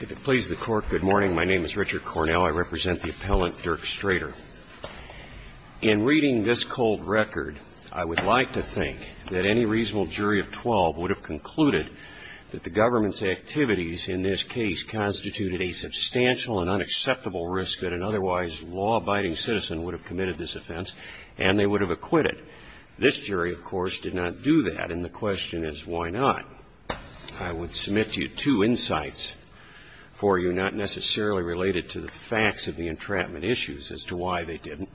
If it pleases the Court, good morning. My name is Richard Cornell. I represent the appellant Dirk Strater. In reading this cold record, I would like to think that any reasonable jury of 12 would have concluded that the government's activities in this case constituted a substantial and unacceptable risk that an otherwise law-abiding citizen would have committed this offense, and they would have acquitted. This jury, of course, did not do that, and the question is why not? I would submit to you two insights for you, not necessarily related to the facts of the entrapment issues, as to why they didn't.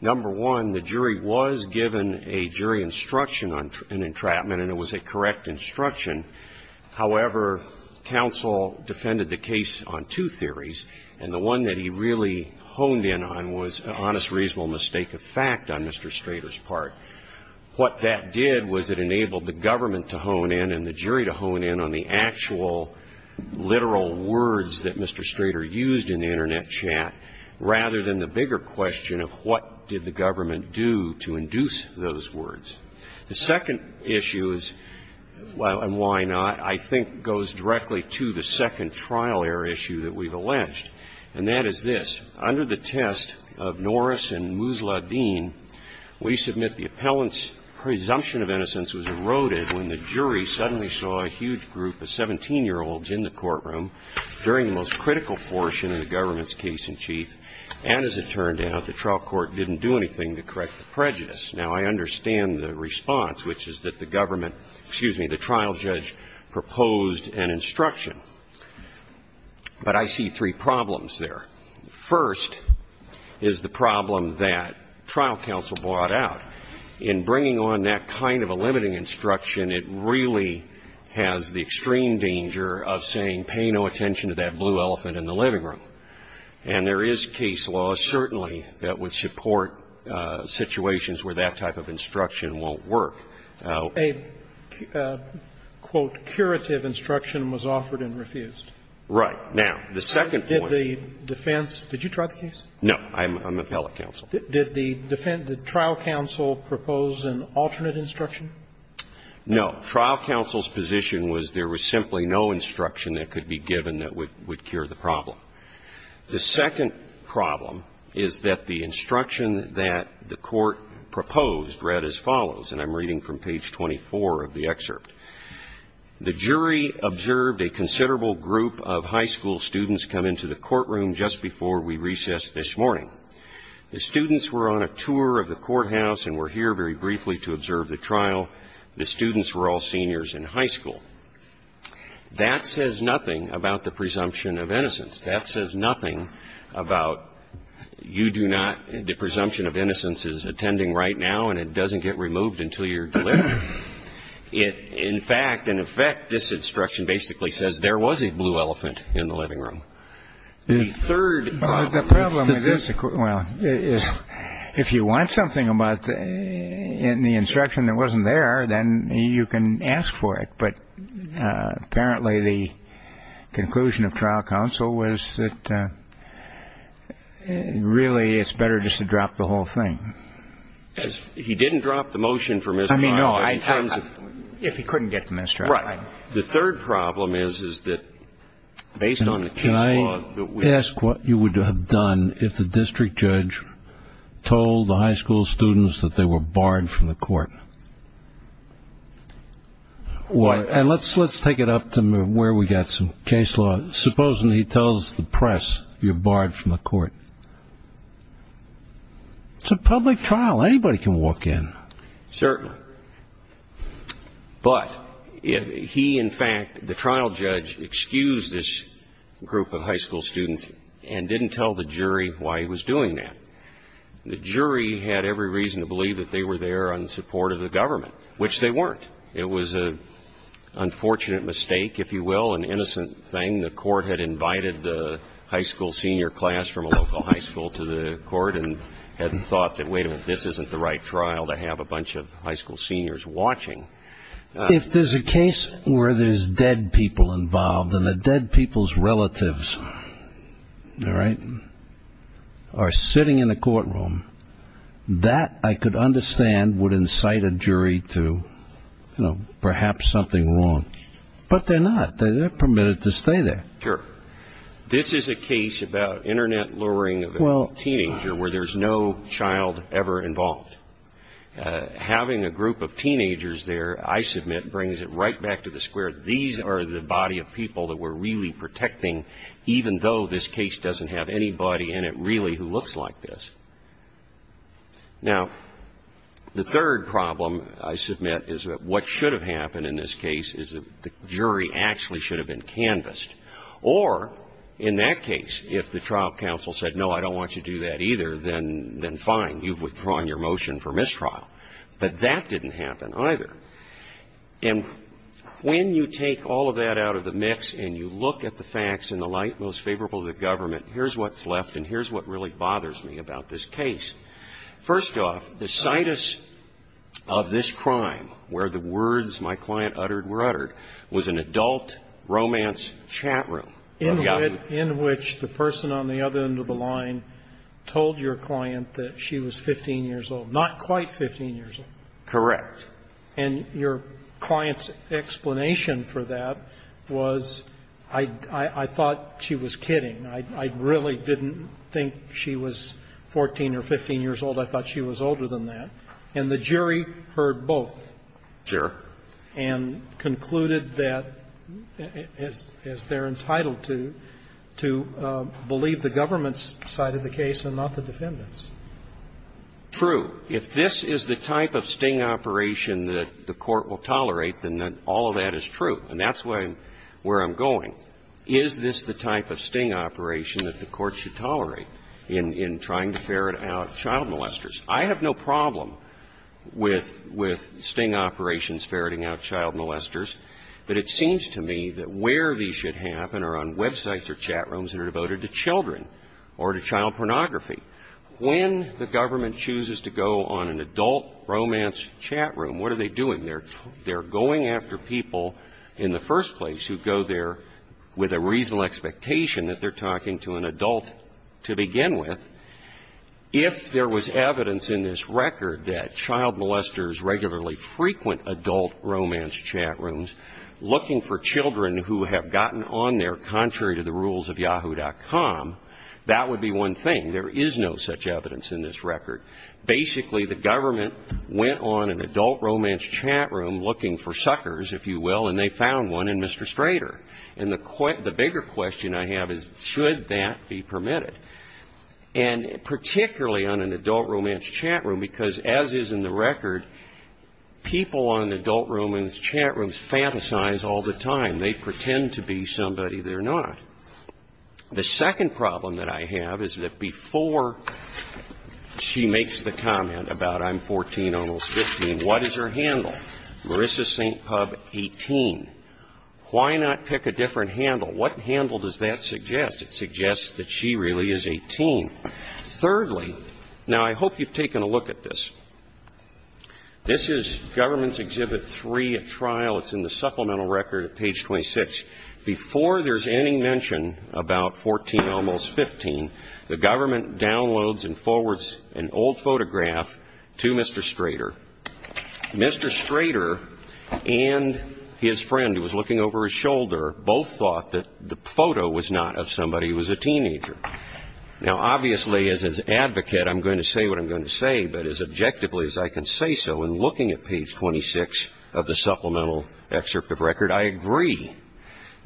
Number one, the jury was given a jury instruction on an entrapment, and it was a correct instruction. However, counsel defended the case on two theories, and the one that he really honed in on was an honest, reasonable mistake of fact on Mr. Strater's part. What that did was it enabled the government to hone in and the jury to hone in on the actual literal words that Mr. Strater used in the Internet chat, rather than the bigger question of what did the government do to induce those words. The second issue is, well, and why not, I think goes directly to the second trial error issue that we've alleged, and that is this. In the case of Norris and Musladeen, we submit the appellant's presumption of innocence was eroded when the jury suddenly saw a huge group of 17-year-olds in the courtroom during the most critical portion of the government's case-in-chief, and as it turned out, the trial court didn't do anything to correct the prejudice. Now, I understand the response, which is that the government – excuse me, the trial judge proposed an instruction, but I see three problems there. First is the problem that trial counsel brought out. In bringing on that kind of a limiting instruction, it really has the extreme danger of saying pay no attention to that blue elephant in the living room. And there is case law, certainly, that would support situations where that type of instruction won't work. A, quote, "...curative instruction was offered and refused." Right. Now, the second point. The defense – did you try the case? No. I'm appellate counsel. Did the trial counsel propose an alternate instruction? No. Trial counsel's position was there was simply no instruction that could be given that would cure the problem. The second problem is that the instruction that the court proposed read as follows, and I'm reading from page 24 of the excerpt. The jury observed a considerable group of high school students come into the courtroom just before we recessed this morning. The students were on a tour of the courthouse and were here very briefly to observe the trial. The students were all seniors in high school. That says nothing about the presumption of innocence. That says nothing about you do not – the presumption of innocence is attending right now and it doesn't get removed until you're delivered. It – in fact, in effect, this instruction basically says there was a blue elephant in the living room. The third – Well, the problem with this – well, if you want something about – in the instruction that wasn't there, then you can ask for it. But apparently the conclusion of trial counsel was that really it's better just to drop the whole thing. He didn't drop the motion for misfire. I mean, no, I – if he couldn't get the minister out. Right. The third problem is, is that based on the case law that we – Can I ask what you would have done if the district judge told the high school students that they were barred from the court? What – And let's take it up to where we got some case law. Supposing he tells the press you're barred from the court. It's a public trial. Anybody can walk in. Certainly. But if he – in fact, the trial judge excused this group of high school students and didn't tell the jury why he was doing that. The jury had every reason to believe that they were there on the support of the government, which they weren't. It was an unfortunate mistake, if you will, an innocent thing. The court had invited the high school senior class from a local high school to the court and had thought that, wait a minute, this isn't the right trial to have a bunch of high school seniors watching. If there's a case where there's dead people involved and the dead people's relatives, all right, are sitting in the courtroom, that, I could understand, would incite a jury to, you know, perhaps something wrong. But they're not. They're permitted to stay there. Sure. This is a case about internet luring of a teenager where there's no child ever involved. Having a group of teenagers there, I submit, brings it right back to the square. These are the body of people that we're really protecting, even though this case doesn't have anybody in it really who looks like this. Now, the third problem, I submit, is that what should have happened in this case is that the jury actually should have been canvassed. Or, in that case, if the trial counsel said, no, I don't want you to do that either, then fine, you've withdrawn your motion for mistrial. But that didn't happen either. And when you take all of that out of the mix and you look at the facts in the light most favorable to the government, here's what's left and here's what really bothers me about this case. First off, the situs of this crime, where the words my client uttered were uttered, was an adult romance chat room. In which the person on the other end of the line told your client that she was 15 years old. Not quite 15 years old. Correct. And your client's explanation for that was, I thought she was kidding. I really didn't think she was 14 or 15 years old. I thought she was older than that. And the jury heard both. Sure. And concluded that, as they're entitled to, to believe the government's side of the case and not the defendant's. True. If this is the type of sting operation that the Court will tolerate, then all of that is true. And that's where I'm going. Is this the type of sting operation that the Court should tolerate in trying to ferret out child molesters? I have no problem with sting operations ferreting out child molesters. But it seems to me that where these should happen are on websites or chat rooms that are devoted to children or to child pornography. When the government chooses to go on an adult romance chat room, what are they doing? They're going after people in the first place who go there with a reasonable expectation that they're talking to an adult to begin with. If there was evidence in this record that child molesters regularly frequent adult romance chat rooms looking for children who have gotten on there contrary to the rules of yahoo.com, that would be one thing. There is no such evidence in this record. Basically, the government went on an adult romance chat room looking for suckers, if you will, and they found one in Mr. Strader. And the bigger question I have is, should that be permitted? And particularly on an adult romance chat room, because as is in the record, people on adult romance chat rooms fantasize all the time. They pretend to be somebody they're not. The second problem that I have is that before she makes the comment about I'm 14, almost 15, what is her handle? Marissa St. Pub, 18. Why not pick a different handle? What handle does that suggest? It suggests that she really is 18. Thirdly, now I hope you've taken a look at this. This is Government's Exhibit 3 at trial. It's in the supplemental record at page 26. Before there's any mention about 14, almost 15, the government downloads and forwards an old photograph to Mr. Strader. Mr. Strader and his friend who was looking over his shoulder both thought that the photo was not of somebody who was a teenager. Now, obviously, as an advocate, I'm going to say what I'm going to say, but as objectively as I can say so, in looking at page 26 of the supplemental excerpt of record, I agree.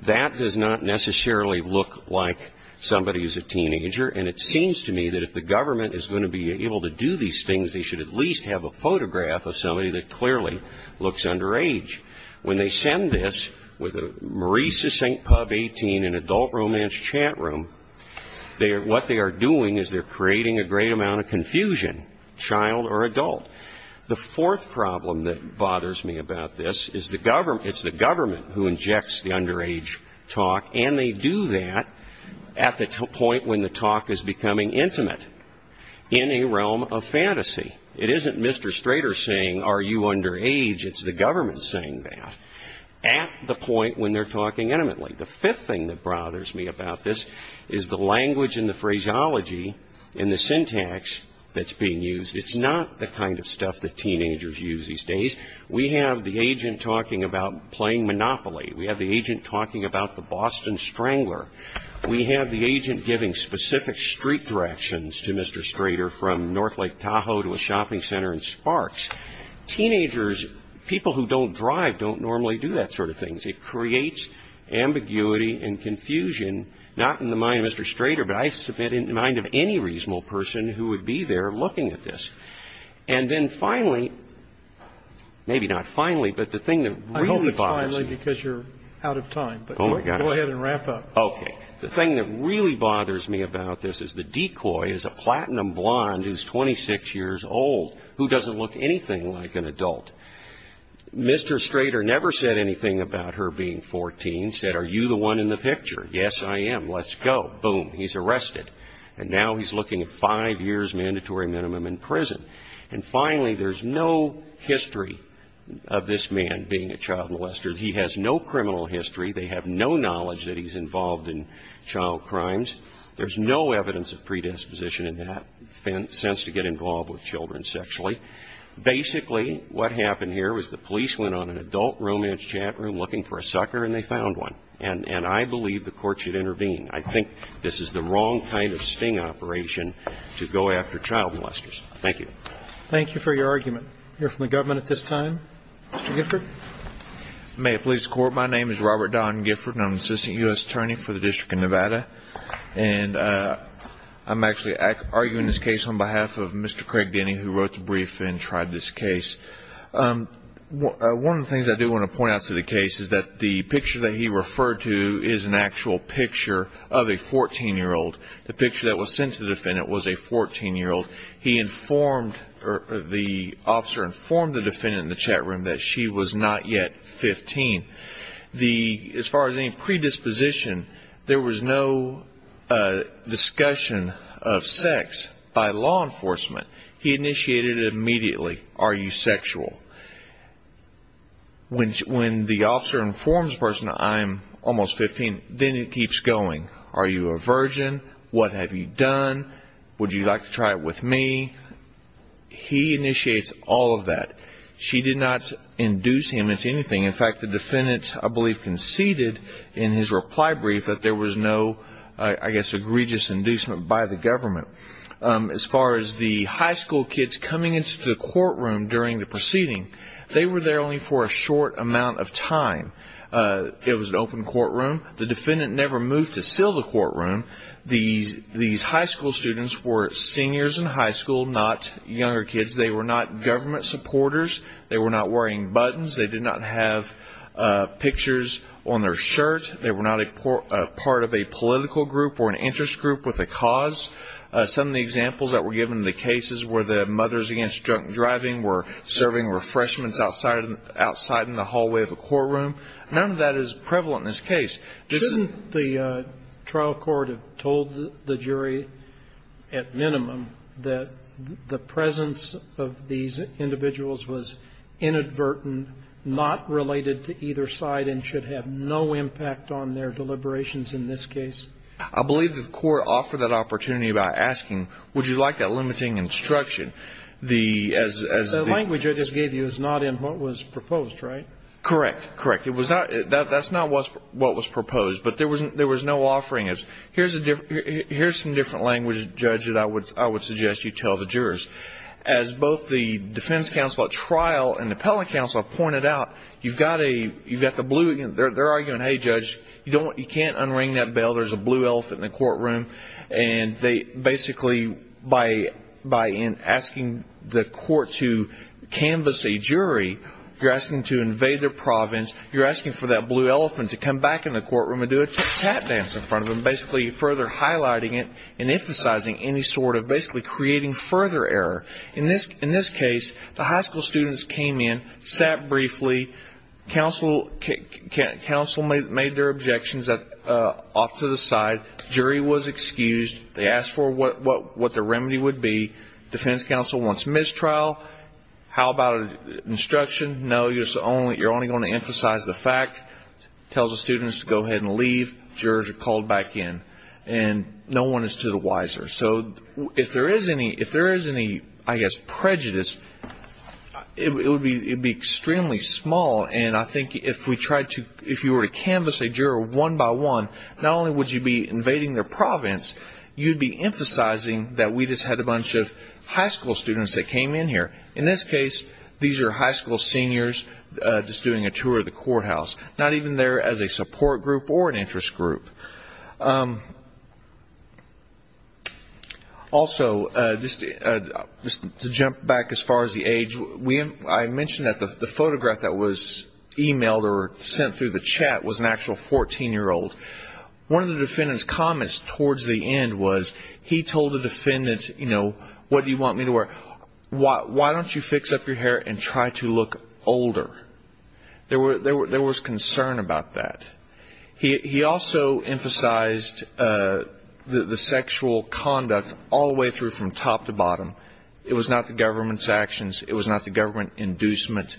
That does not necessarily look like somebody who's a teenager. And it seems to me that if the government is going to be able to do these things, they should at least have a photograph of somebody that clearly looks underage. When they send this with a Marisa St. Pub 18 in adult romance chat room, what they are doing is they're creating a great amount of confusion, child or adult. The fourth problem that bothers me about this is it's the government who injects the underage talk, and they do that at the point when the talk is becoming intimate in a realm of fantasy. It isn't Mr. Strader saying, are you underage? It's the government saying that at the point when they're talking intimately. The fifth thing that bothers me about this is the language and the phraseology and the syntax that's being used. It's not the kind of stuff that teenagers use these days. We have the agent talking about playing Monopoly. We have the agent talking about the Boston Strangler. We have the agent giving specific street directions to Mr. Strader from North Lake Tahoe to a shopping center in Sparks. Teenagers, people who don't drive, don't normally do that sort of things. It creates ambiguity and confusion, not in the mind of Mr. Strader, but I submit in the mind of any reasonable person who would be there looking at this. And then finally, maybe not finally, but the thing that really bothers me... I hope it's finally because you're out of time, but go ahead and wrap up. Okay. The thing that really bothers me about this is the decoy is a platinum blonde who's 26 years old, who doesn't look anything like an adult. Mr. Strader never said anything about her being 14. Said, are you the one in the picture? Yes, I am. Let's go. Boom. He's arrested. And now he's looking at five years mandatory minimum in prison. And finally, there's no history of this man being a child molester. He has no criminal history. They have no knowledge that he's involved in child crimes. There's no evidence of predisposition in that sense to get involved with children sexually. Basically, what happened here was the police went on an adult romance chat room looking for a sucker, and they found one. And I believe the court should intervene. I think this is the wrong kind of sting operation to go after child molesters. Thank you. Thank you for your argument. We'll hear from the government at this time. Mr. Gifford. May it please the Court. My name is Robert Don Gifford, and I'm Assistant U.S. Attorney for the District of Nevada. And I'm actually arguing this case on behalf of Mr. Craig Denny, who wrote the brief and tried this case. One of the things I do want to point out to the case is that the picture that he referred to is an actual picture of a 14-year-old. The picture that was sent to the defendant was a 14-year-old. He informed, or the officer informed the defendant in the chat room that she was not yet 15. The, as far as any predisposition, there was no discussion of sex by law enforcement. He initiated it immediately. Are you sexual? When the officer informs the person I'm almost 15, then it keeps going. Are you a virgin? What have you done? Would you like to try it with me? He initiates all of that. She did not induce him into anything. In fact, the defendant, I believe, conceded in his reply brief that there was no, I guess, egregious inducement by the government. As far as the high school kids coming into the courtroom during the proceeding, they were there only for a short amount of time. It was an open courtroom. The defendant never moved to seal the courtroom. These high school students were seniors in high school, not younger kids. They were not government supporters. They were not wearing buttons. They did not have pictures on their shirt. They were not a part of a political group or an interest group with a cause. Some of the examples that were given in the cases were the mothers against drunk driving were serving refreshments outside in the hallway of a courtroom. None of that is prevalent in this case. Shouldn't the trial court have told the jury at minimum that the presence of these not related to either side and should have no impact on their deliberations in this case? I believe the court offered that opportunity by asking, would you like a limiting instruction? The language I just gave you is not in what was proposed, right? Correct. Correct. That's not what was proposed. But there was no offering. Here's some different language, Judge, that I would suggest you tell the jurors. As both the defense counsel at trial and the appellate counsel have pointed out, they're arguing, hey, Judge, you can't unring that bell. There's a blue elephant in the courtroom. Basically, by asking the court to canvas a jury, you're asking to invade their province. You're asking for that blue elephant to come back in the courtroom and do a tap dance in front of them, basically further highlighting it and emphasizing any sort of basically creating further error. In this case, the high school students came in, sat briefly, counsel made their objections off to the side. Jury was excused. They asked for what the remedy would be. Defense counsel wants mistrial. How about an instruction? No, you're only going to emphasize the fact, tells the students to go ahead and leave. Jurors are called back in. And no one is to the wiser. So if there is any, I guess, prejudice, it would be extremely small. And I think if you were to canvas a juror one by one, not only would you be invading their province, you'd be emphasizing that we just had a bunch of high school students that came in here. In this case, these are high school seniors just doing a tour of the courthouse, not even there as a support group or an interest group. Also, just to jump back as far as the age, I mentioned that the photograph that was emailed or sent through the chat was an actual 14-year-old. One of the defendant's comments towards the end was he told the defendant, you know, what do you want me to wear? Why don't you fix up your hair and try to look older? There was concern about that. He also emphasized the sexual conduct all the way through from top to bottom. It was not the government's actions. It was not the government inducement.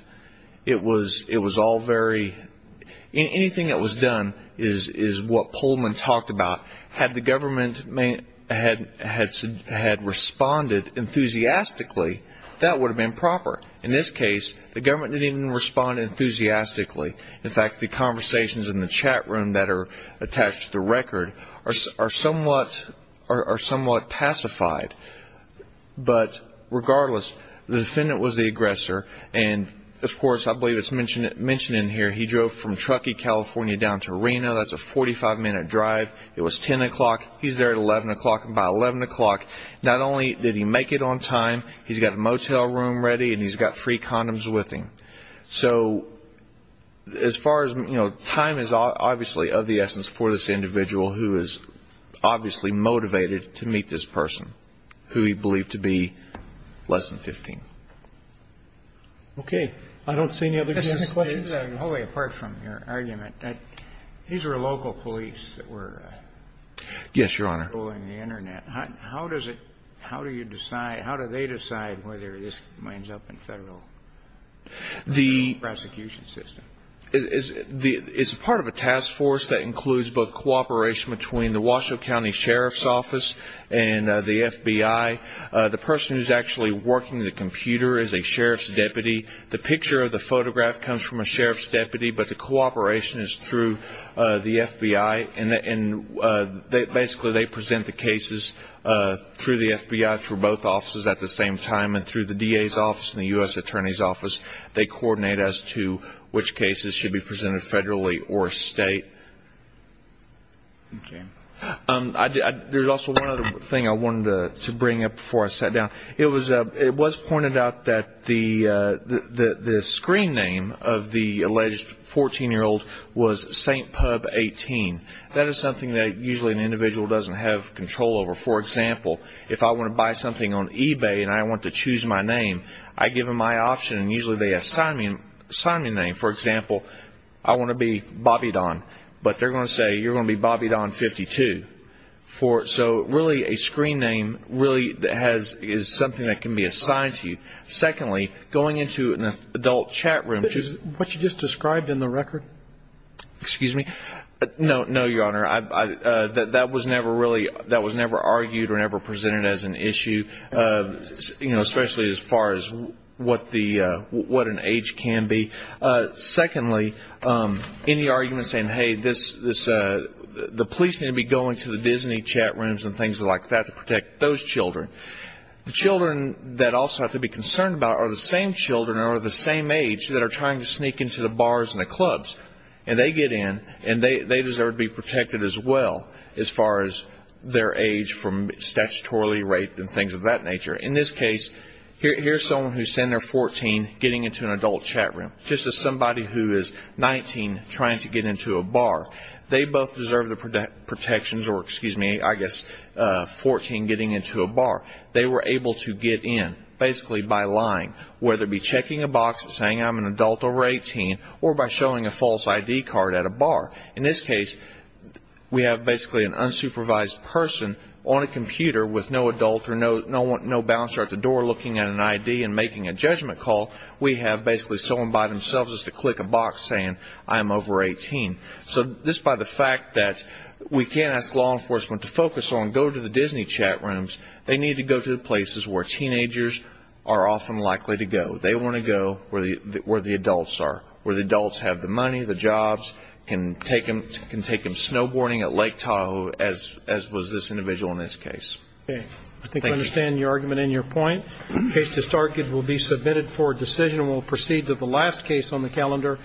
Anything that was done is what Pullman talked about. Had the government had responded enthusiastically, that would have been proper. In this case, the government didn't even respond enthusiastically. In fact, the conversations in the chat room that are attached to the record are somewhat pacified. But regardless, the defendant was the aggressor. Of course, I believe it's mentioned in here, he drove from Truckee, California down to Reno. That's a 45-minute drive. It was 10 o'clock. He's there at 11 o'clock. By 11 o'clock, not only did he make it on time, he's got a motel room ready and he's got three condoms with him. So as far as, you know, time is obviously of the essence for this individual who is obviously motivated to meet this person who he believed to be less than 15. Okay. I don't see any other questions. Mr. McLeod, apart from your argument, these were local police that were controlling the internet. How does it, how do you decide, how do they decide whether this winds up in federal? The prosecution system is part of a task force that includes both cooperation between the Washoe County Sheriff's Office and the FBI. The person who's actually working the computer is a sheriff's deputy. The picture of the photograph comes from a sheriff's deputy, but the cooperation is through the FBI. And basically, they present the cases through the FBI for both offices at the same time and through the DA's office and the U.S. Attorney's Office. They coordinate as to which cases should be presented federally or state. Okay. There's also one other thing I wanted to bring up before I sat down. It was pointed out that the screen name of the alleged 14-year-old was St. Pub 18. That is something that usually an individual doesn't have control over. For example, if I want to buy something on eBay and I want to choose my name, I give them my option and usually they assign me a name. For example, I want to be Bobby Don. But they're going to say, you're going to be Bobby Don 52. So really, a screen name really is something that can be assigned to you. Secondly, going into an adult chat room... Is this what you just described in the record? Excuse me? No, Your Honor. That was never really argued or ever presented as an issue, especially as far as what an age can be. Secondly, any argument saying, hey, the police need to be going to the Disney chat rooms and things like that to protect those children. The children that also have to be concerned about are the same children or the same age that are trying to sneak into the bars and the clubs. And they get in and they deserve to be protected as well as far as their age from statutorily rape and things of that nature. In this case, here's someone who sent their 14 getting into an adult chat room, just as somebody who is 19 trying to get into a bar. They both deserve the protections or excuse me, I guess, 14 getting into a bar. They were able to get in basically by lying, whether it be checking a box saying I'm an adult over 18 or by showing a false ID card at a bar. In this case, we have basically an unsupervised person on a computer with no adult or no bouncer at the door looking at an ID and making a judgment call. We have basically someone by themselves to click a box saying I'm over 18. So just by the fact that we can't ask law enforcement to focus on go to the Disney chat rooms, they need to go to the places where teenagers are often likely to go. They want to go where the adults are, where the adults have the money, the jobs, can take them snowboarding at Lake Tahoe, as was this individual in this case. I think I understand your argument and your point. Case to start will be submitted for decision. We'll proceed to the last case on the calendar,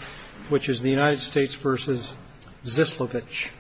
which is the United States v. Zislovich.